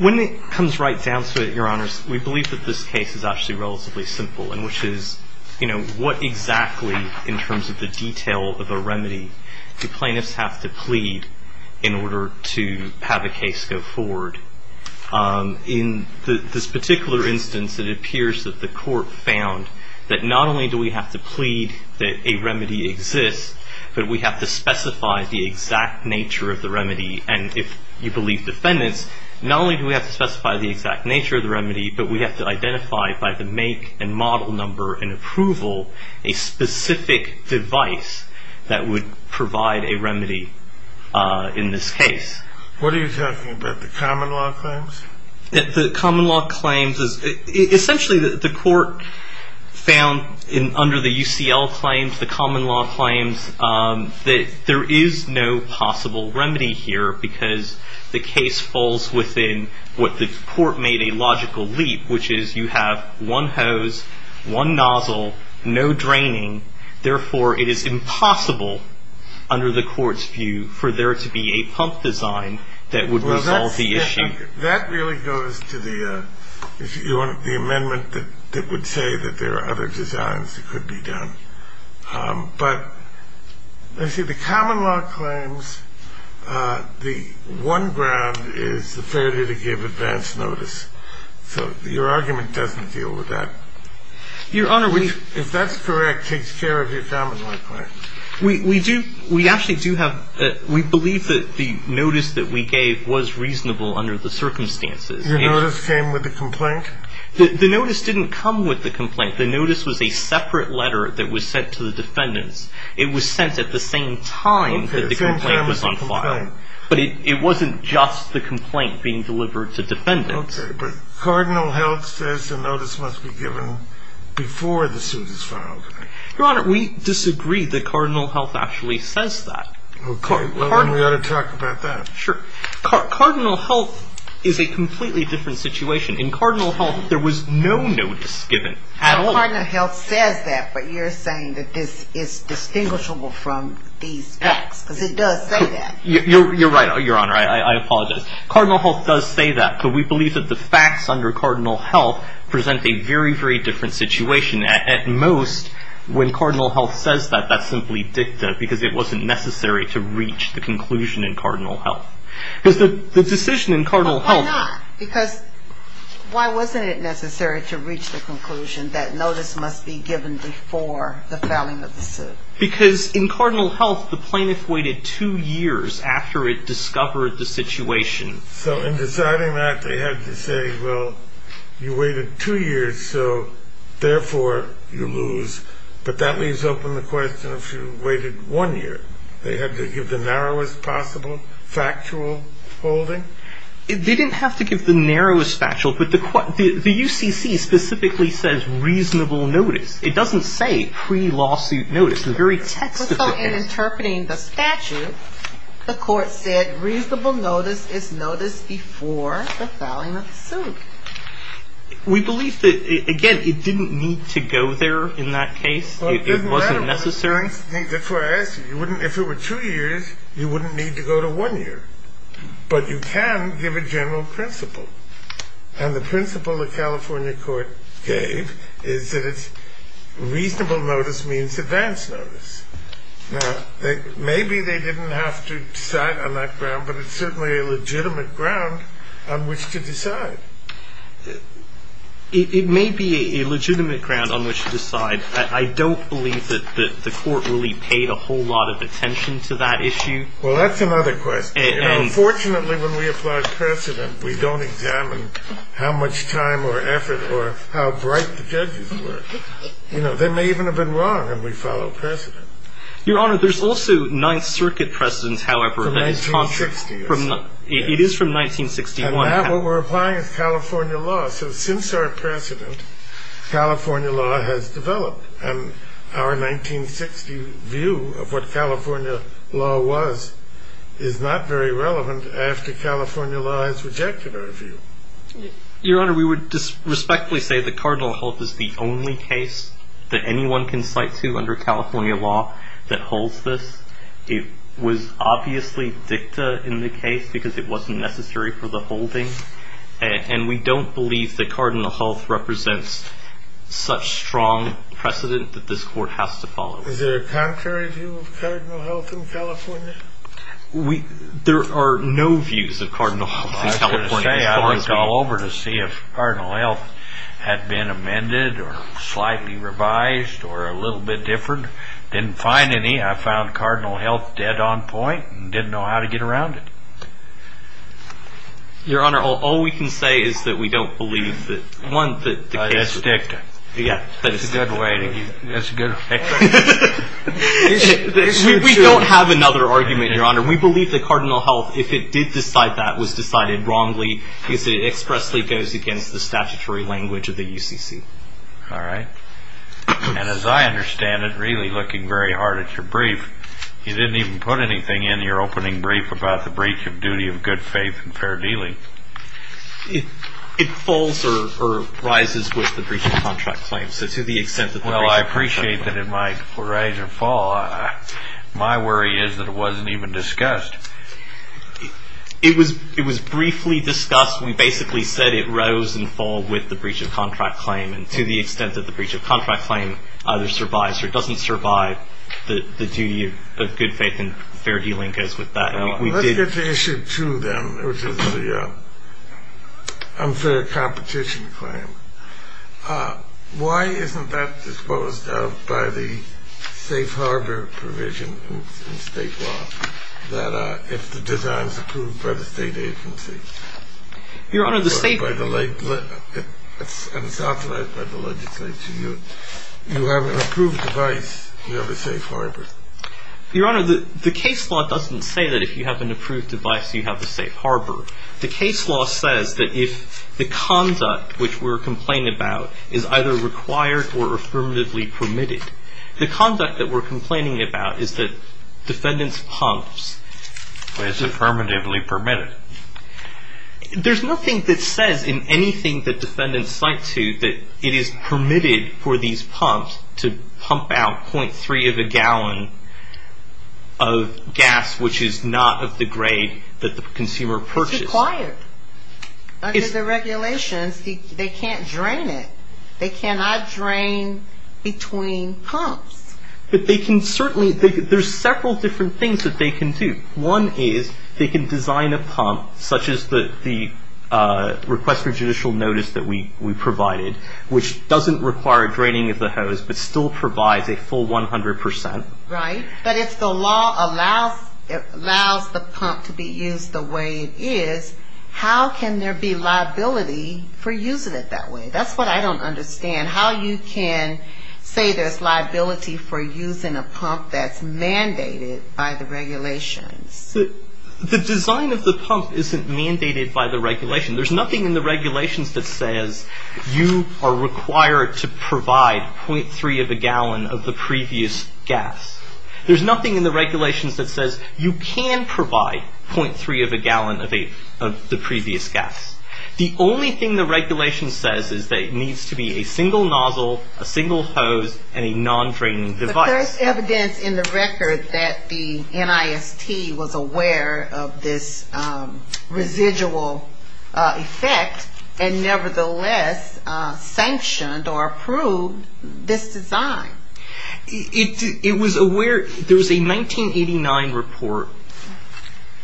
When it comes right down to it, your honors, we believe that this case is actually relatively simple, and which is, you know, what exactly, in terms of the detail of a remedy, do plaintiffs have to plead in order to get a remedy? In this particular instance, it appears that the court found that not only do we have to plead that a remedy exists, but we have to specify the exact nature of the remedy, and if you believe defendants, not only do we have to specify the exact nature of the remedy, but we have to identify by the make and model number and approval a specific device that would provide a remedy. What are you talking about, the common law claims? Essentially, the court found under the UCL claims, the common law claims, that there is no possible remedy here because the case falls within what the court made a logical leap, which is you have one hose, one nozzle, no draining, therefore it is impossible under the court's view for there to be a pump design that would resolve the issue. That really goes to the amendment that would say that there are other designs that could be done. But, you see, the common law claims, the one ground is the fairty to give advance notice. So your argument doesn't deal with that. Your honor, we If that's correct, it takes care of your common law claims. We do, we actually do have, we believe that the notice that we gave was reasonable under the circumstances. Your notice came with the complaint? The notice didn't come with the complaint. The notice was a separate letter that was sent to the defendants. It was sent at the same time that the complaint was on file, but it wasn't just the complaint being delivered to defendants. Okay, but Cardinal Heldt says the notice must be given before the suit is filed. Your honor, we disagree that Cardinal Heldt actually says that. Okay, well then we ought to talk about that. Cardinal Heldt is a completely different situation. In Cardinal Heldt, there was no notice given at all. Cardinal Heldt says that, but you're saying that this is distinguishable from these facts, because it does say that. You're right, your honor, I apologize. Cardinal Heldt does say that, but we believe that the facts under Cardinal Heldt present a very, very different situation. At most, when Cardinal Heldt says that, that's simply dicta, because it wasn't necessary to reach the conclusion in Cardinal Heldt. But why not? Because why wasn't it necessary to reach the conclusion that notice must be given before the filing of the suit? Because in Cardinal Heldt, the plaintiff waited two years after it discovered the situation. So in deciding that, they had to say, well, you waited two years, so therefore you lose. But that leaves open the question of if you waited one year, they had to give the narrowest possible factual holding? They didn't have to give the narrowest factual, but the UCC specifically says reasonable notice. It doesn't say pre-lawsuit notice. So in interpreting the statute, the court said reasonable notice is notice before the filing of the suit. We believe that, again, it didn't need to go there in that case. It wasn't necessary. If it were two years, you wouldn't need to go to one year. But you can give a general principle. And the principle the California court gave is that it's reasonable notice means advance notice. Now, maybe they didn't have to decide on that ground, but it's certainly a legitimate ground on which to decide. It may be a legitimate ground on which to decide. I don't believe that the court really paid a whole lot of attention to that issue. Well, that's another question. Unfortunately, when we apply precedent, we don't examine how much time or effort or how bright the judges were. You know, they may even have been wrong, and we follow precedent. Your Honor, there's also Ninth Circuit precedents, however. From 1960. It is from 1961. What we're applying is California law. So since our precedent, California law has developed. And our 1960 view of what California law was is not very relevant after California law has rejected our view. Your Honor, we would respectfully say that Cardinal Health is the only case that anyone can cite to under California law that holds this. It was obviously dicta in the case because it wasn't necessary for the holding. And we don't believe that Cardinal Health represents such strong precedent that this court has to follow. Is there a contrary view of Cardinal Health in California? There are no views of Cardinal Health in California as far as we know. I would call over to see if Cardinal Health had been amended or slightly revised or a little bit different. Didn't find any. I found Cardinal Health dead on point and didn't know how to get around it. Your Honor, all we can say is that we don't believe that. That's dicta. Yeah. That's a good way. That's a good way. We don't have another argument, Your Honor. We believe that Cardinal Health, if it did decide that, was decided wrongly because it expressly goes against the statutory language of the UCC. All right. And as I understand it, really looking very hard at your brief, you didn't even put anything in your opening brief about the breach of duty of good faith and fair dealing. It falls or rises with the breach of contract claim. So to the extent that the breach of contract claim. Well, I appreciate that it might rise or fall. My worry is that it wasn't even discussed. It was briefly discussed. We basically said it rose and fell with the breach of contract claim. And to the extent that the breach of contract claim either survives or doesn't survive, the duty of good faith and fair dealing goes with that. Let's get to issue two then, which is the unfair competition claim. Why isn't that disposed of by the safe harbor provision in state law if the design is approved by the state agency? Your Honor, the state. And it's authorized by the legislature. You have an approved device. You have a safe harbor. Your Honor, the case law doesn't say that if you have an approved device, you have a safe harbor. The case law says that if the conduct which we're complaining about is either required or affirmatively permitted, the conduct that we're complaining about is that defendants pumps. But it's affirmatively permitted. There's nothing that says in anything that defendants cite to that it is permitted for these pumps to pump out .3 of a gallon of gas, which is not of the grade that the consumer purchased. It's required. Under the regulations, they can't drain it. They cannot drain between pumps. But they can certainly, there's several different things that they can do. One is they can design a pump such as the request for judicial notice that we provided, which doesn't require draining of the hose but still provides a full 100%. Right. But if the law allows the pump to be used the way it is, how can there be liability for using it that way? That's what I don't understand. How you can say there's liability for using a pump that's mandated by the regulations. The design of the pump isn't mandated by the regulation. There's nothing in the regulations that says you are required to provide .3 of a gallon of the previous gas. There's nothing in the regulations that says you can provide .3 of a gallon of the previous gas. The only thing the regulation says is that it needs to be a single nozzle, a single hose, and a non-draining device. But there's evidence in the record that the NIST was aware of this residual effect and nevertheless sanctioned or approved this design. It was aware, there was a 1989 report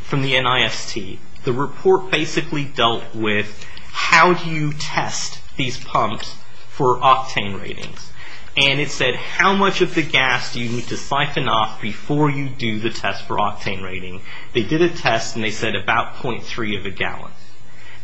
from the NIST. The report basically dealt with how do you test these pumps for octane ratings? And it said how much of the gas do you need to siphon off before you do the test for octane rating? They did a test and they said about .3 of a gallon.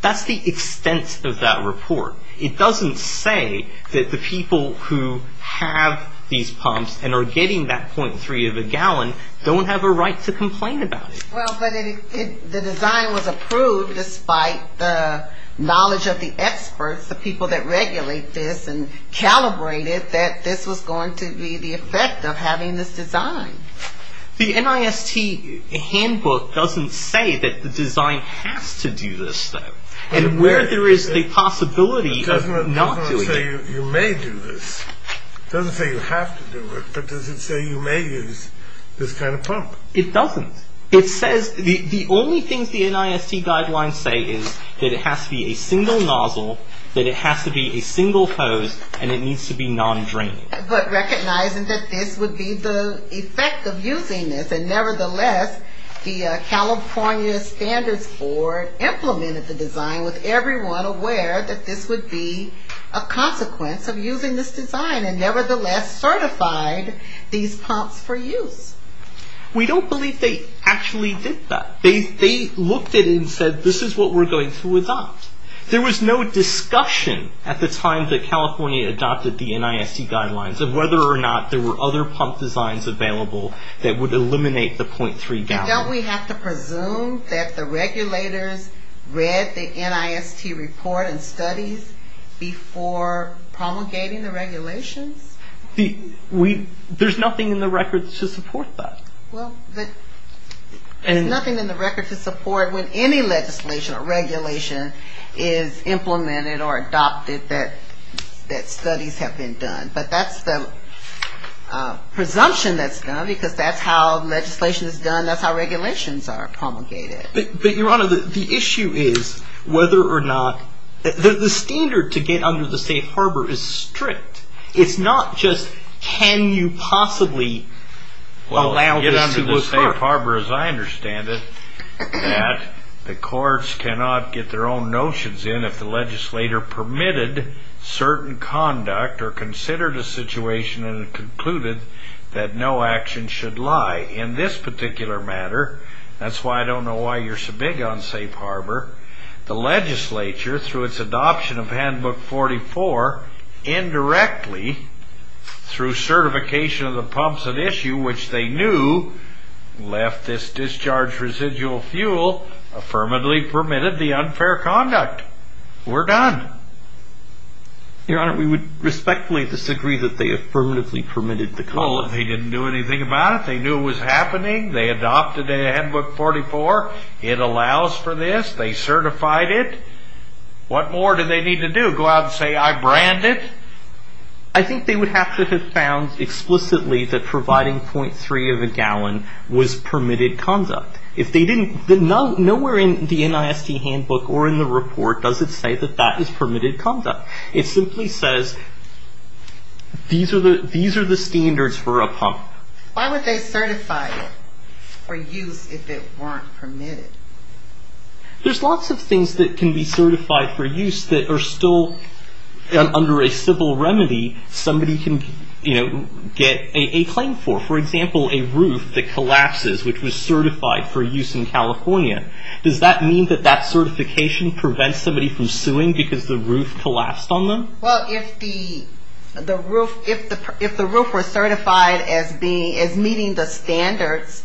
That's the extent of that report. It doesn't say that the people who have these pumps and are getting that .3 of a gallon don't have a right to complain about it. Well, but the design was approved despite the knowledge of the experts, the people that regulate this, and calibrated that this was going to be the effect of having this design. The NIST handbook doesn't say that the design has to do this though. And where there is the possibility of not doing it. It doesn't say you may do this. It doesn't say you have to do it. But does it say you may use this kind of pump? It doesn't. It says the only things the NIST guidelines say is that it has to be a single nozzle, that it has to be a single hose, and it needs to be non-draining. But recognizing that this would be the effect of using this and nevertheless, the California Standards Board implemented the design with everyone aware that this would be a consequence of using this design and nevertheless certified these pumps for use. We don't believe they actually did that. They looked at it and said this is what we're going to adopt. There was no discussion at the time that California adopted the NIST guidelines of whether or not there were other pump designs available that would eliminate the .3 gallon. Don't we have to presume that the regulators read the NIST report and studies before promulgating the regulations? There's nothing in the record to support that. Well, there's nothing in the record to support when any legislation or regulation is implemented or adopted that studies have been done. But that's the presumption that's done because that's how legislation is done. That's how regulations are promulgated. But Your Honor, the issue is whether or not the standard to get under the safe harbor is strict. It's not just can you possibly allow this to occur. Well, to get under the safe harbor, as I understand it, that the courts cannot get their own notions in if the legislator permitted certain conduct or considered a situation and concluded that no action should lie. In this particular matter, that's why I don't know why you're so big on safe harbor, the legislature, through its adoption of Handbook 44, indirectly, through certification of the pumps at issue, which they knew left this discharge residual fuel, affirmatively permitted the unfair conduct. We're done. Your Honor, we would respectfully disagree that they affirmatively permitted the conduct. Well, they didn't do anything about it. They knew it was happening. They adopted Handbook 44. It allows for this. They certified it. What more do they need to do, go out and say I brand it? I think they would have to have found explicitly that providing 0.3 of a gallon was permitted conduct. Nowhere in the NISD Handbook or in the report does it say that that is permitted conduct. It simply says these are the standards for a pump. Why would they certify it for use if it weren't permitted? There's lots of things that can be certified for use that are still under a civil remedy somebody can get a claim for. For example, a roof that collapses, which was certified for use in California. Does that mean that that certification prevents somebody from suing because the roof collapsed on them? Well, if the roof was certified as meeting the standards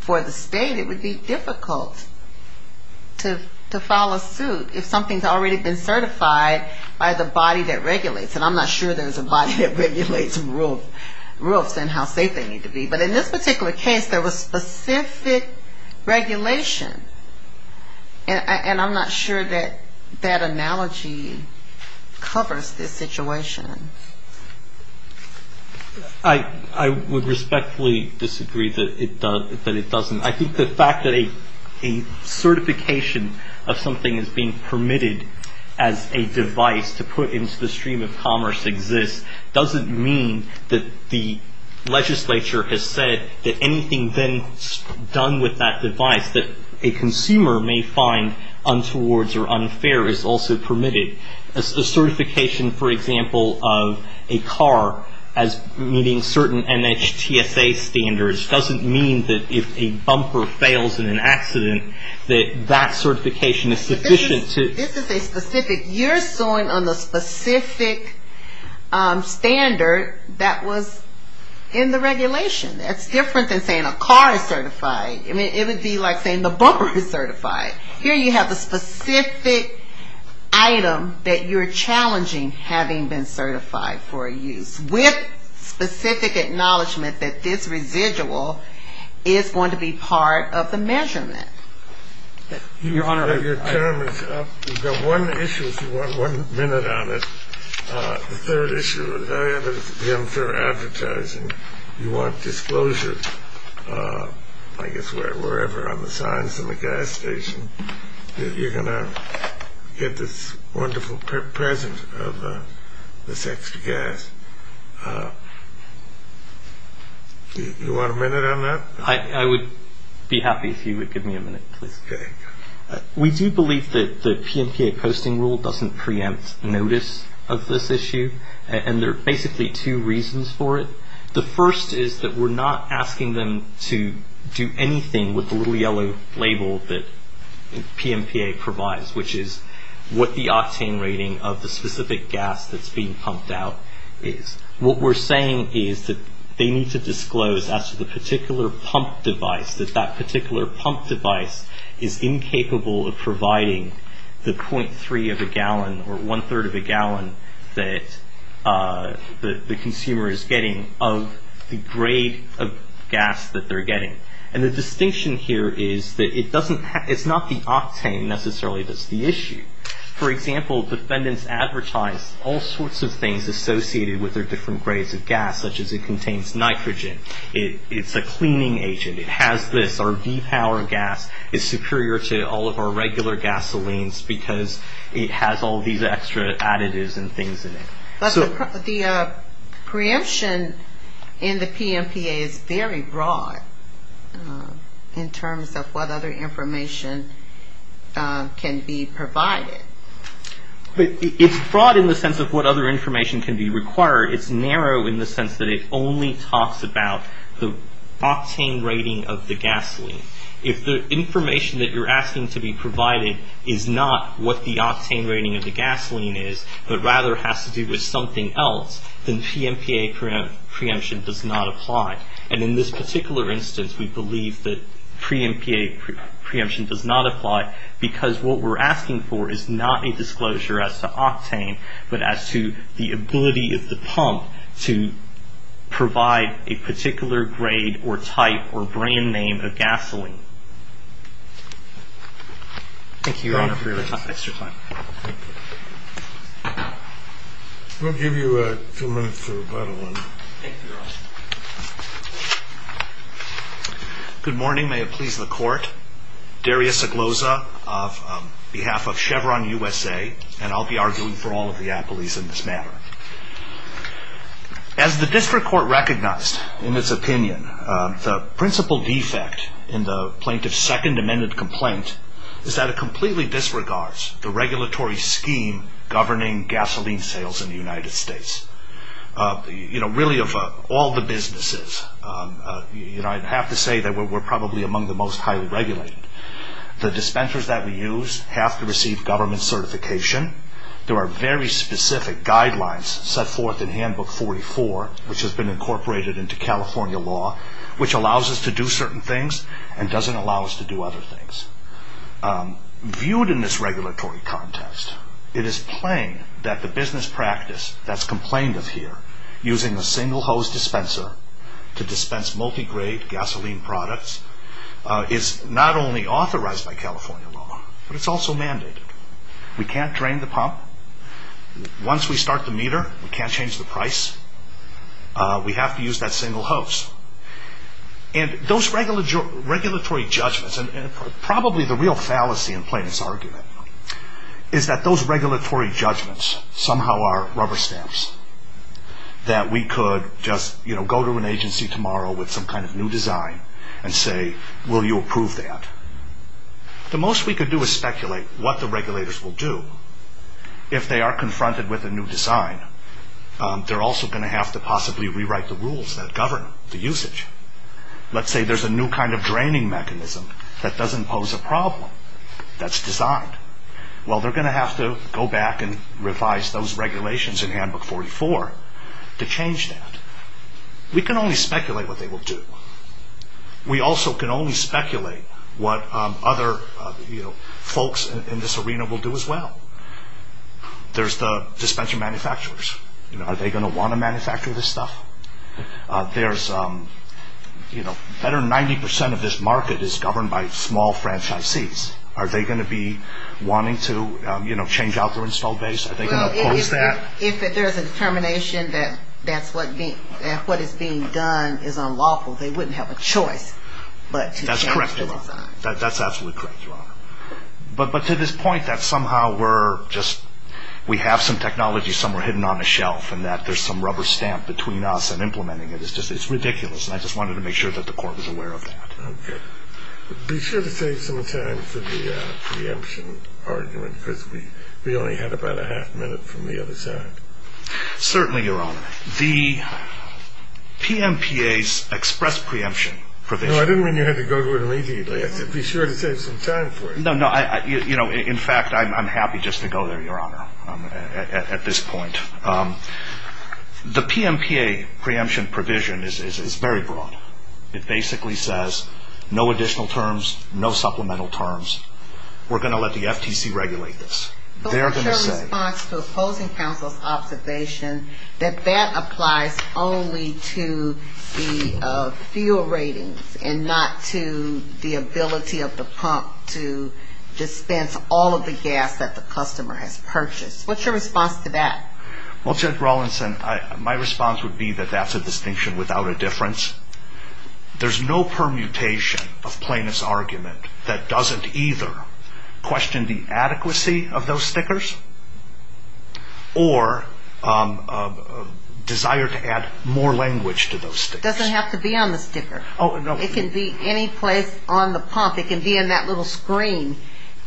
for the state, it would be difficult to file a suit if something's already been certified by the body that regulates. And I'm not sure there's a body that regulates roofs and how safe they need to be. But in this particular case, there was specific regulation. And I'm not sure that that analogy covers this situation. I would respectfully disagree that it doesn't. I think the fact that a certification of something is being permitted as a device to put into the stream of commerce exists doesn't mean that the regulation that a consumer may find untowards or unfair is also permitted. A certification, for example, of a car as meeting certain NHTSA standards doesn't mean that if a bumper fails in an accident that that certification is sufficient to ---- This is a specific, you're suing on the specific standard that was in the regulation. That's different than saying a car is certified. It would be like saying the bumper is certified. Here you have a specific item that you're challenging having been certified for use with specific acknowledgement that this residual is going to be part of the measurement. Your term is up. You've got one issue if you want one minute on it. The third issue is the unfair advertising. You want disclosure, I guess, wherever on the signs in the gas station that you're going to get this wonderful present of this extra gas. You want a minute on that? I would be happy if you would give me a minute, please. We do believe that the PMPA posting rule doesn't preempt notice of this issue. There are basically two reasons for it. The first is that we're not asking them to do anything with the little yellow label that PMPA provides, which is what the octane rating of the specific gas that's being pumped out is. What we're saying is that they need to disclose as to the particular pump device, that that particular pump device is incapable of providing the .3 of a gallon or one-third of a gallon that the consumer is getting of the grade of gas that they're getting. And the distinction here is that it's not the octane necessarily that's the issue. For example, defendants advertise all sorts of things associated with their different grades of gas, such as it contains nitrogen, it's a cleaning agent, it has this, our V-Power gas is superior to all of our regular gasolines because it has all these extra additives and things in it. The preemption in the PMPA is very broad in terms of what other information can be provided. But it's broad in the sense of what other information can be required. It's narrow in the sense that it only talks about the octane rating of the gasoline. If the information that you're asking to be provided is not what the octane rating of the gasoline is, but rather has to do with something else, then PMPA preemption does not apply. And in this particular instance, we believe that PMPA preemption does not apply because what we're asking for is that the consumer is not a disclosure as to octane, but as to the ability of the pump to provide a particular grade or type or brand name of gasoline. Thank you, Your Honor, for your extra time. We'll give you two minutes to rebuttal. Thank you, Your Honor. Good morning. May it please the Court. Darius Oglosa on behalf of Chevron USA. And I'll be arguing for all of the appellees in this matter. As the district court recognized in its opinion, the principal defect in the plaintiff's second amended complaint is that it completely disregards the regulatory scheme governing gasoline sales in the United States. Really, of all the businesses, I'd have to say that we're probably among the most highly regulated. The dispensers that we use have to receive government certification. There are very specific guidelines set forth in Handbook 44, which has been incorporated into California law, which allows us to do certain things and doesn't allow us to do other things. Viewed in this regulatory contest, it is plain that the business practice that's complained of here, using a single hose dispenser to dispense multi-grade gasoline products, is not only authorized by California law, but it's also mandated. We can't drain the pump. Once we start the meter, we can't change the price. We have to use that single hose. And those regulatory judgments, and probably the real fallacy in Plaintiff's argument, is that those regulatory judgments somehow are rubber stamps. That we could just go to an agency tomorrow with some kind of new design and say, will you approve that? The most we could do is speculate what the regulators will do if they are confronted with a new design. They're also going to have to possibly rewrite the rules that govern the usage. Let's say there's a new kind of draining mechanism that doesn't pose a problem, that's designed. Well, they're going to have to go back and revise those regulations in Handbook 44 to change that. We can only speculate what they will do. We also can only speculate what other folks in this arena will do as well. There's the dispenser manufacturers. Are they going to want to manufacture this stuff? Better than 90% of this market is governed by small franchisees. Are they going to be wanting to change out their install base? If there's a determination that what is being done is unlawful, they wouldn't have a choice but to change the design. That's absolutely correct, Your Honor. But to this point that somehow we have some technology somewhere hidden on a shelf and that there's some rubber stamp between us and implementing it, it's ridiculous. I just wanted to make sure that the Court was aware of that. Be sure to take some time for the preemption argument because we only have about a half minute from the other side. Certainly, Your Honor. The PMPA's express preemption provision... No, I didn't mean you had to go to it immediately. Be sure to take some time for it. In fact, I'm happy just to go there, Your Honor, at this point. The PMPA preemption provision is very broad. It basically says no additional terms, no supplemental terms. We're going to let the FTC regulate this. What's your response to opposing counsel's observation that that applies only to the fuel ratings and not to the ability of the pump to dispense all of the gas that the customer has purchased? What's your response to that? Well, Judge Rawlinson, my response would be that that's a distinction without a difference. There's no permutation of plaintiff's argument that doesn't either question the adequacy of those stickers or desire to add more language to those stickers. It doesn't have to be on the sticker. It can be any place on the pump. It can be in that little screen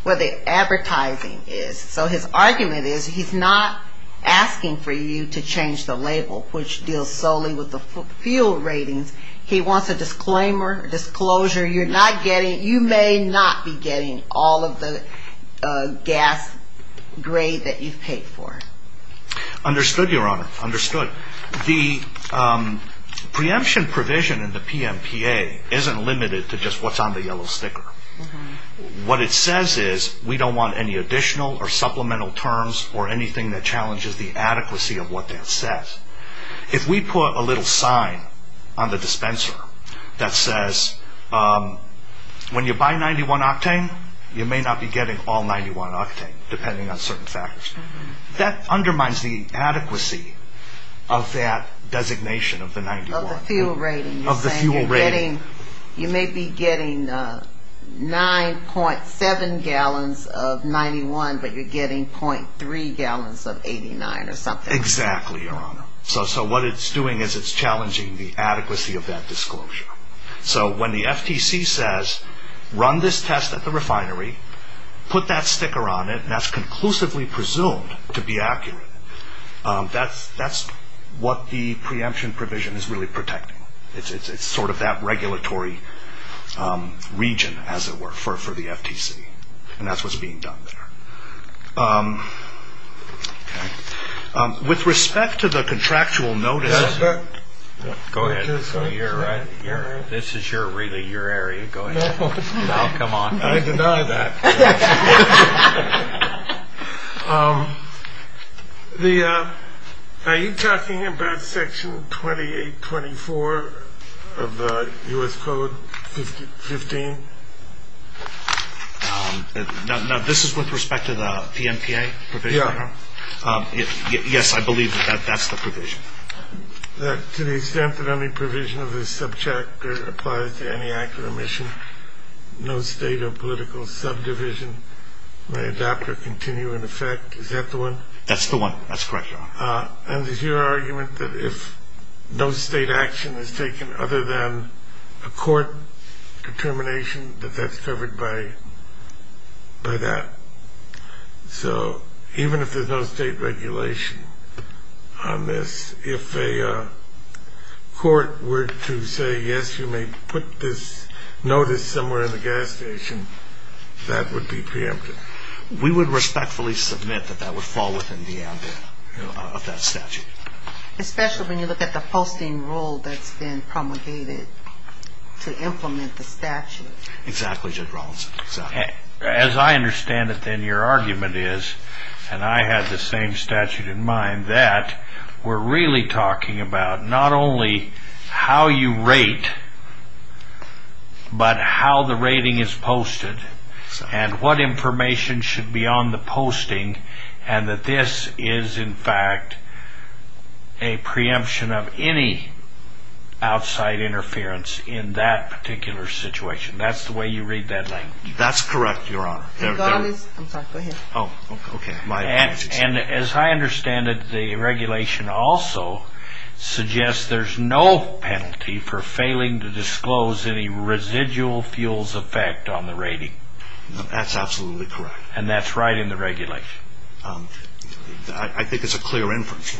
where the advertising is. So his argument is he's not asking for you to change the label, which deals solely with the fuel ratings. He wants a disclaimer, a disclosure. You may not be getting all of the gas grade that you've paid for. Understood, Your Honor, understood. The preemption provision in the PMPA isn't limited to just what's on the yellow sticker. What it says is we don't want any additional or supplemental terms or anything that challenges the adequacy of what that says. If we put a little sign on the dispenser that says, when you buy 91 octane, you may not be getting all 91 octane, depending on certain factors, that undermines the adequacy of that designation of the 91. Of the fuel rating. You may be getting 9.7 gallons of 91, but you're getting .3 gallons of 89 or something. Exactly, Your Honor. So what it's doing is it's challenging the adequacy of that disclosure. So when the FTC says, run this test at the refinery, put that sticker on it, and that's conclusively presumed to be accurate, that's what the preemption provision is really protecting. It's sort of that regulatory region, as it were, for the FTC. And that's what's being done there. With respect to the contractual notice... Go ahead. This is really your area. Go ahead. I'll come on. I deny that. Are you talking about Section 2824 of the U.S. Code 15? No, this is with respect to the PMPA provision. Yes, I believe that that's the provision. That to the extent that any provision of this subject applies to any act of omission, no state or political subdivision may adopt or continue in effect. Is that the one? That's the one. That's correct, Your Honor. And is your argument that if no state action is taken other than a court determination, that that's covered by that? So even if there's no state regulation on this, if a court were to say, yes, you may put this notice somewhere in the gas station, that would be preempted? We would respectfully submit that that would fall within the ambit of that statute. Especially when you look at the posting rule that's been promulgated to implement the statute. Exactly, Judge Rawlinson. As I understand it then, your argument is, and I had the same statute in mind, that we're really talking about not only how you rate, but how the rating is posted and what information should be on the posting, and that this is in fact a preemption of any outside interference in that particular situation. That's the way you read that language? That's correct, Your Honor. And as I understand it, the regulation also suggests there's no penalty for failing to disclose any residual fuels effect on the rating. That's absolutely correct. And that's right in the regulation? That's correct. I think it's a clear inference.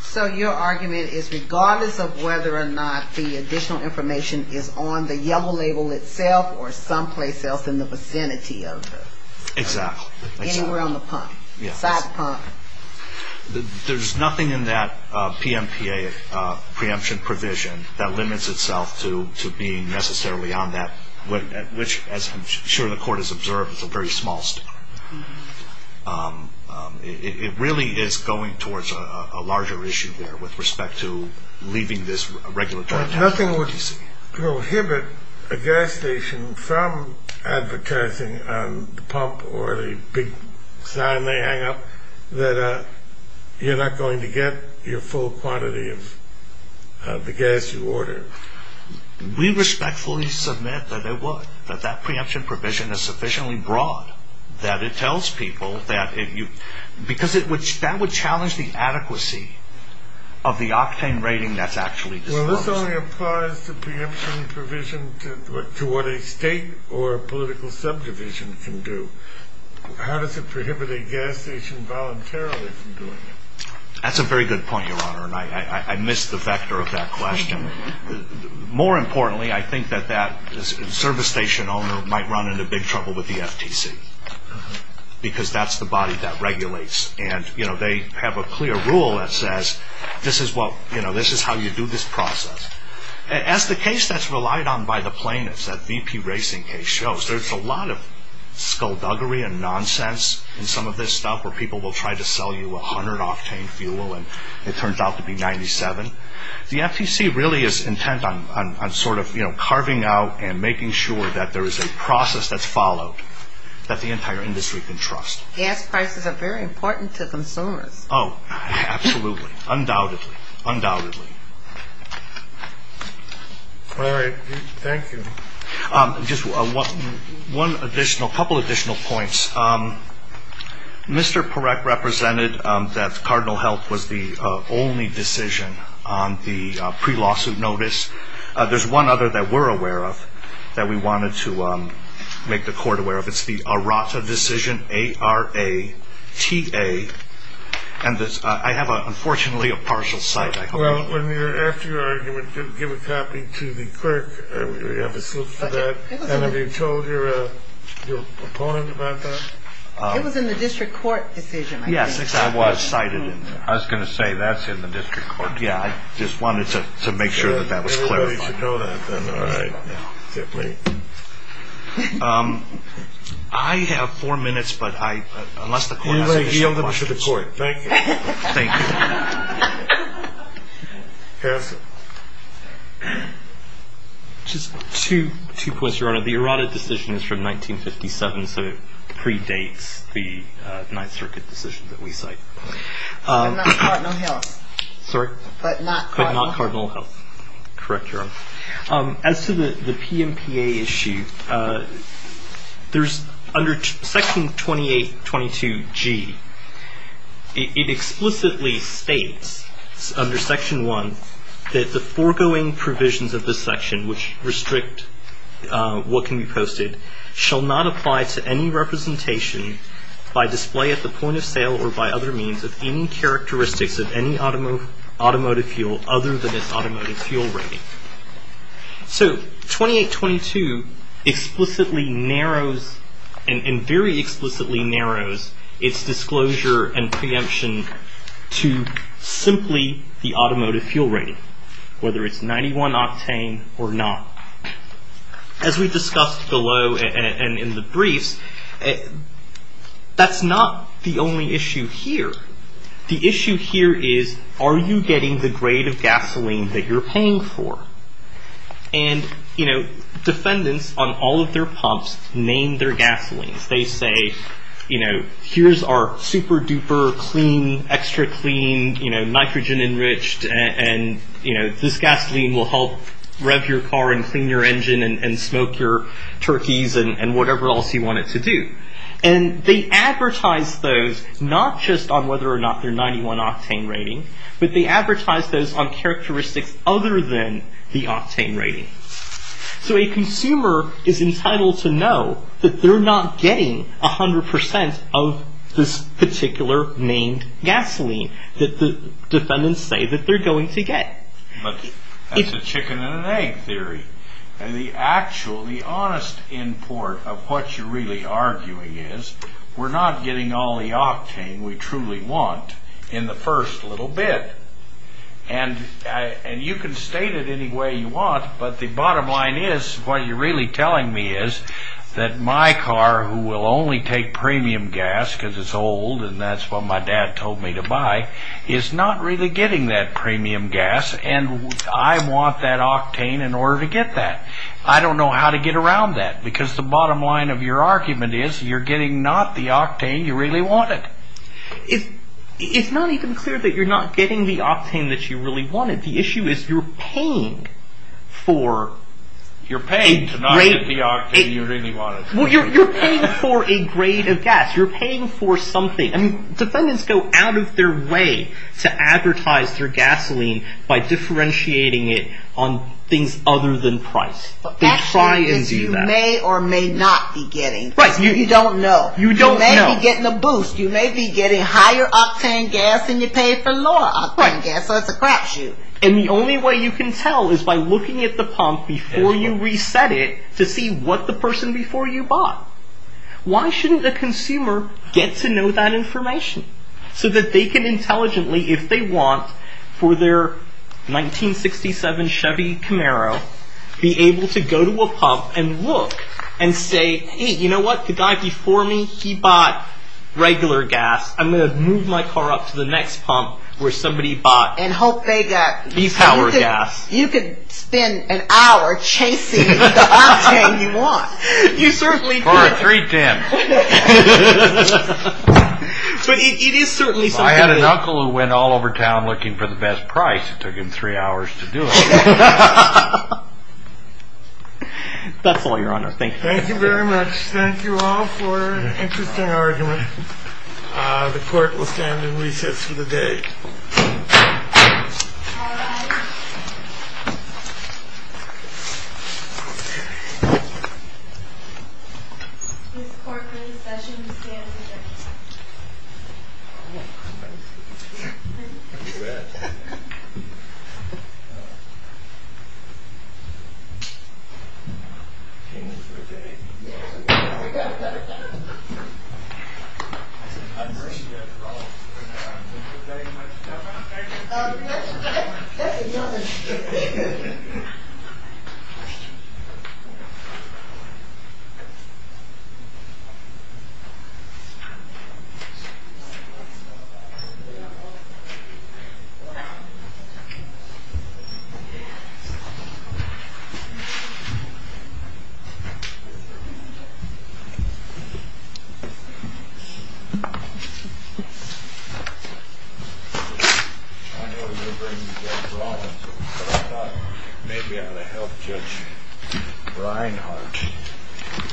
So your argument is regardless of whether or not the additional information is on the yellow label itself or someplace else in the vicinity of it. Exactly. Anywhere on the pump, inside the pump. There's nothing in that PMPA preemption provision that limits itself to being necessarily on that, which as I'm sure the Court has observed, is a very small statute. It really is going towards a larger issue there with respect to leaving this regulatory. Nothing would prohibit a gas station from advertising on the pump or the gas station with the big sign they hang up that you're not going to get your full quantity of the gas you order. We respectfully submit that it would, that that preemption provision is sufficiently broad that it tells people that if you, because that would challenge the adequacy of the octane rating that's actually disclosed. Well, this only applies to preemption provision to what a state or political subdivision can do. How does it prohibit a gas station voluntarily from doing it? That's a very good point, Your Honor, and I missed the vector of that question. More importantly, I think that that service station owner might run into big trouble with the FTC because that's the body that regulates. And they have a clear rule that says this is how you do this process. As the case that's relied on by the plaintiffs, that VP Racing case shows, there's a lot of skullduggery and nonsense in some of this stuff where people will try to sell you 100 octane fuel and it turns out to be 97. The FTC really is intent on sort of carving out and making sure that there is a process that's followed that the entire industry can trust. Gas prices are very important to consumers. Oh, absolutely. Undoubtedly. Undoubtedly. All right. Thank you. Just one additional, couple additional points. Mr. Parekh represented that Cardinal Health was the only decision on the pre-lawsuit notice. There's one other that we're aware of that we wanted to make the court aware of. It's the Arata decision, A-R-A-T-A. And I have, unfortunately, a partial cite. Well, after your argument, give a copy to the clerk. And have you told your opponent about that? It was in the district court decision. I was going to say that's in the district court. Yeah, I just wanted to make sure that that was clear. I have four minutes, but unless the court has any questions. Thank you. Just two points, Your Honor. The Arata decision is from 1957, so it predates the Ninth Circuit decision that we cite. But not Cardinal Health. Sorry? But not Cardinal Health. Correct, Your Honor. As to the PMPA issue, there's under Section 2822G, it explicitly states under Section 1 that the foregoing provisions of this section, which restrict what can be posted, shall not apply to any representation by display at the point of sale or by other means of any characteristics of any automotive fuel other than its automotive fuel rating. So 2822 explicitly narrows and very explicitly narrows its disclosure and preemption to simply the automotive fuel rating, whether it's 91 octane or not. As we discussed below and in the briefs, that's not the only issue here. The issue here is, are you getting the grade of gasoline that you're paying for? And defendants on all of their pumps name their gasolines. They say, here's our super duper clean, extra clean, nitrogen enriched, and this gasoline will help rev your car and clean your engine and smoke your turkeys and whatever else you want it to do. And they advertise those not just on whether or not they're 91 octane rating, but they advertise those on characteristics other than the octane rating. So a consumer is entitled to know that they're not getting 100% of this particular named gasoline that the defendants say that they're going to get. But that's a chicken and an egg theory. And the actual, the honest import of what you're really arguing is, we're not getting all the octane we truly want in the first little bit. And you can state it any way you want, but the bottom line is, what you're really telling me is that my car, who will only take premium gas because it's old and that's what my dad told me to buy, is not really getting that premium gas and I want that octane in order to get that. I don't know how to get around that, because the bottom line of your argument is, you're getting not the octane you really wanted. It's not even clear that you're not getting the octane that you really wanted. The issue is you're paying for... You're paying to not get the octane you really wanted. Well, you're paying for a grade of gas. You're paying for something. I mean, defendants go out of their way to advertise their gasoline by differentiating it on things other than price. The fact is you may or may not be getting. Right. You don't know. You don't know. You may be getting a boost. You may be getting higher octane gas than you paid for lower octane gas. Right. So it's a crapshoot. And the only way you can tell is by looking at the pump before you reset it to see what the person before you bought. Why shouldn't the consumer get to know that information? So that they can intelligently, if they want, for their 1967 Chevy Camaro, be able to go to a pump and look and say, Hey, you know what? The guy before me, he bought regular gas. I'm going to move my car up to the next pump where somebody bought. And hope they got. The power gas. You could spend an hour chasing the octane you want. You certainly could. Or a 310. But it is certainly something. If I had an uncle who went all over town looking for the best price, it took him three hours to do it. That's all, Your Honor. Thank you. Thank you very much. Thank you all for an interesting argument. The court will stand in recess for the day. Thank you. I know you're going to bring me Jeff Rollins, but I thought maybe I ought to help Judge Reinhardt.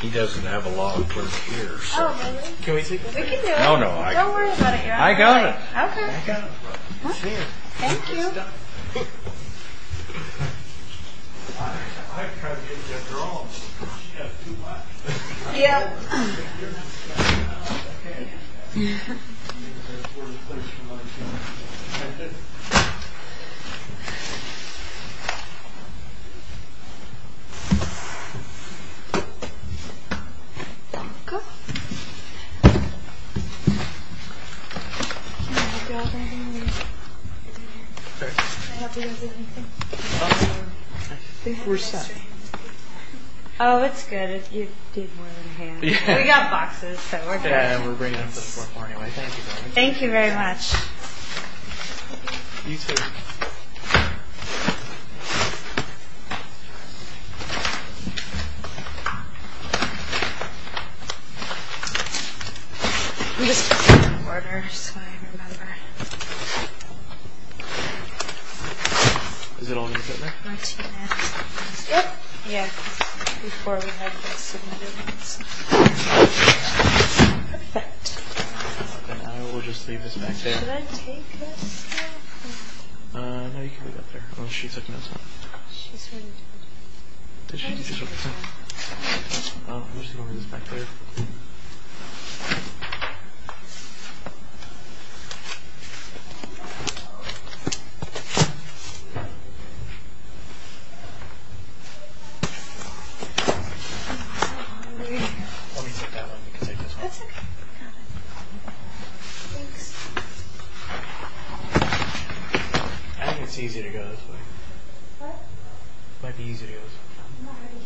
He doesn't have a lot of work here. Oh, really? Can we take a break? We can do it. No, no. Don't worry about it, Your Honor. I got it. Okay. I got it. Thank you. Thank you. Yep. Thank you. Can I help you with anything? I think we're set. Oh, it's good. You did more than a hand. We got boxes, so we're good. Yeah, we're bringing them to the fourth floor anyway. Thank you, darling. Thank you very much. You, too. I'm just putting them in order so I remember. Is it all going to fit in there? Not too bad. Yep. Yeah. Before we have those submitted. Perfect. Then I will just leave this back there. Should I take this? No. No, you can leave that there. She's already taken notes. Did she? I don't know. I'm just going to leave this back there. Let me take that one. You can take this one. That's okay. Thanks. I think it's easier to go this way. What? It might be easier to go this way. I'm not ready here. Okay.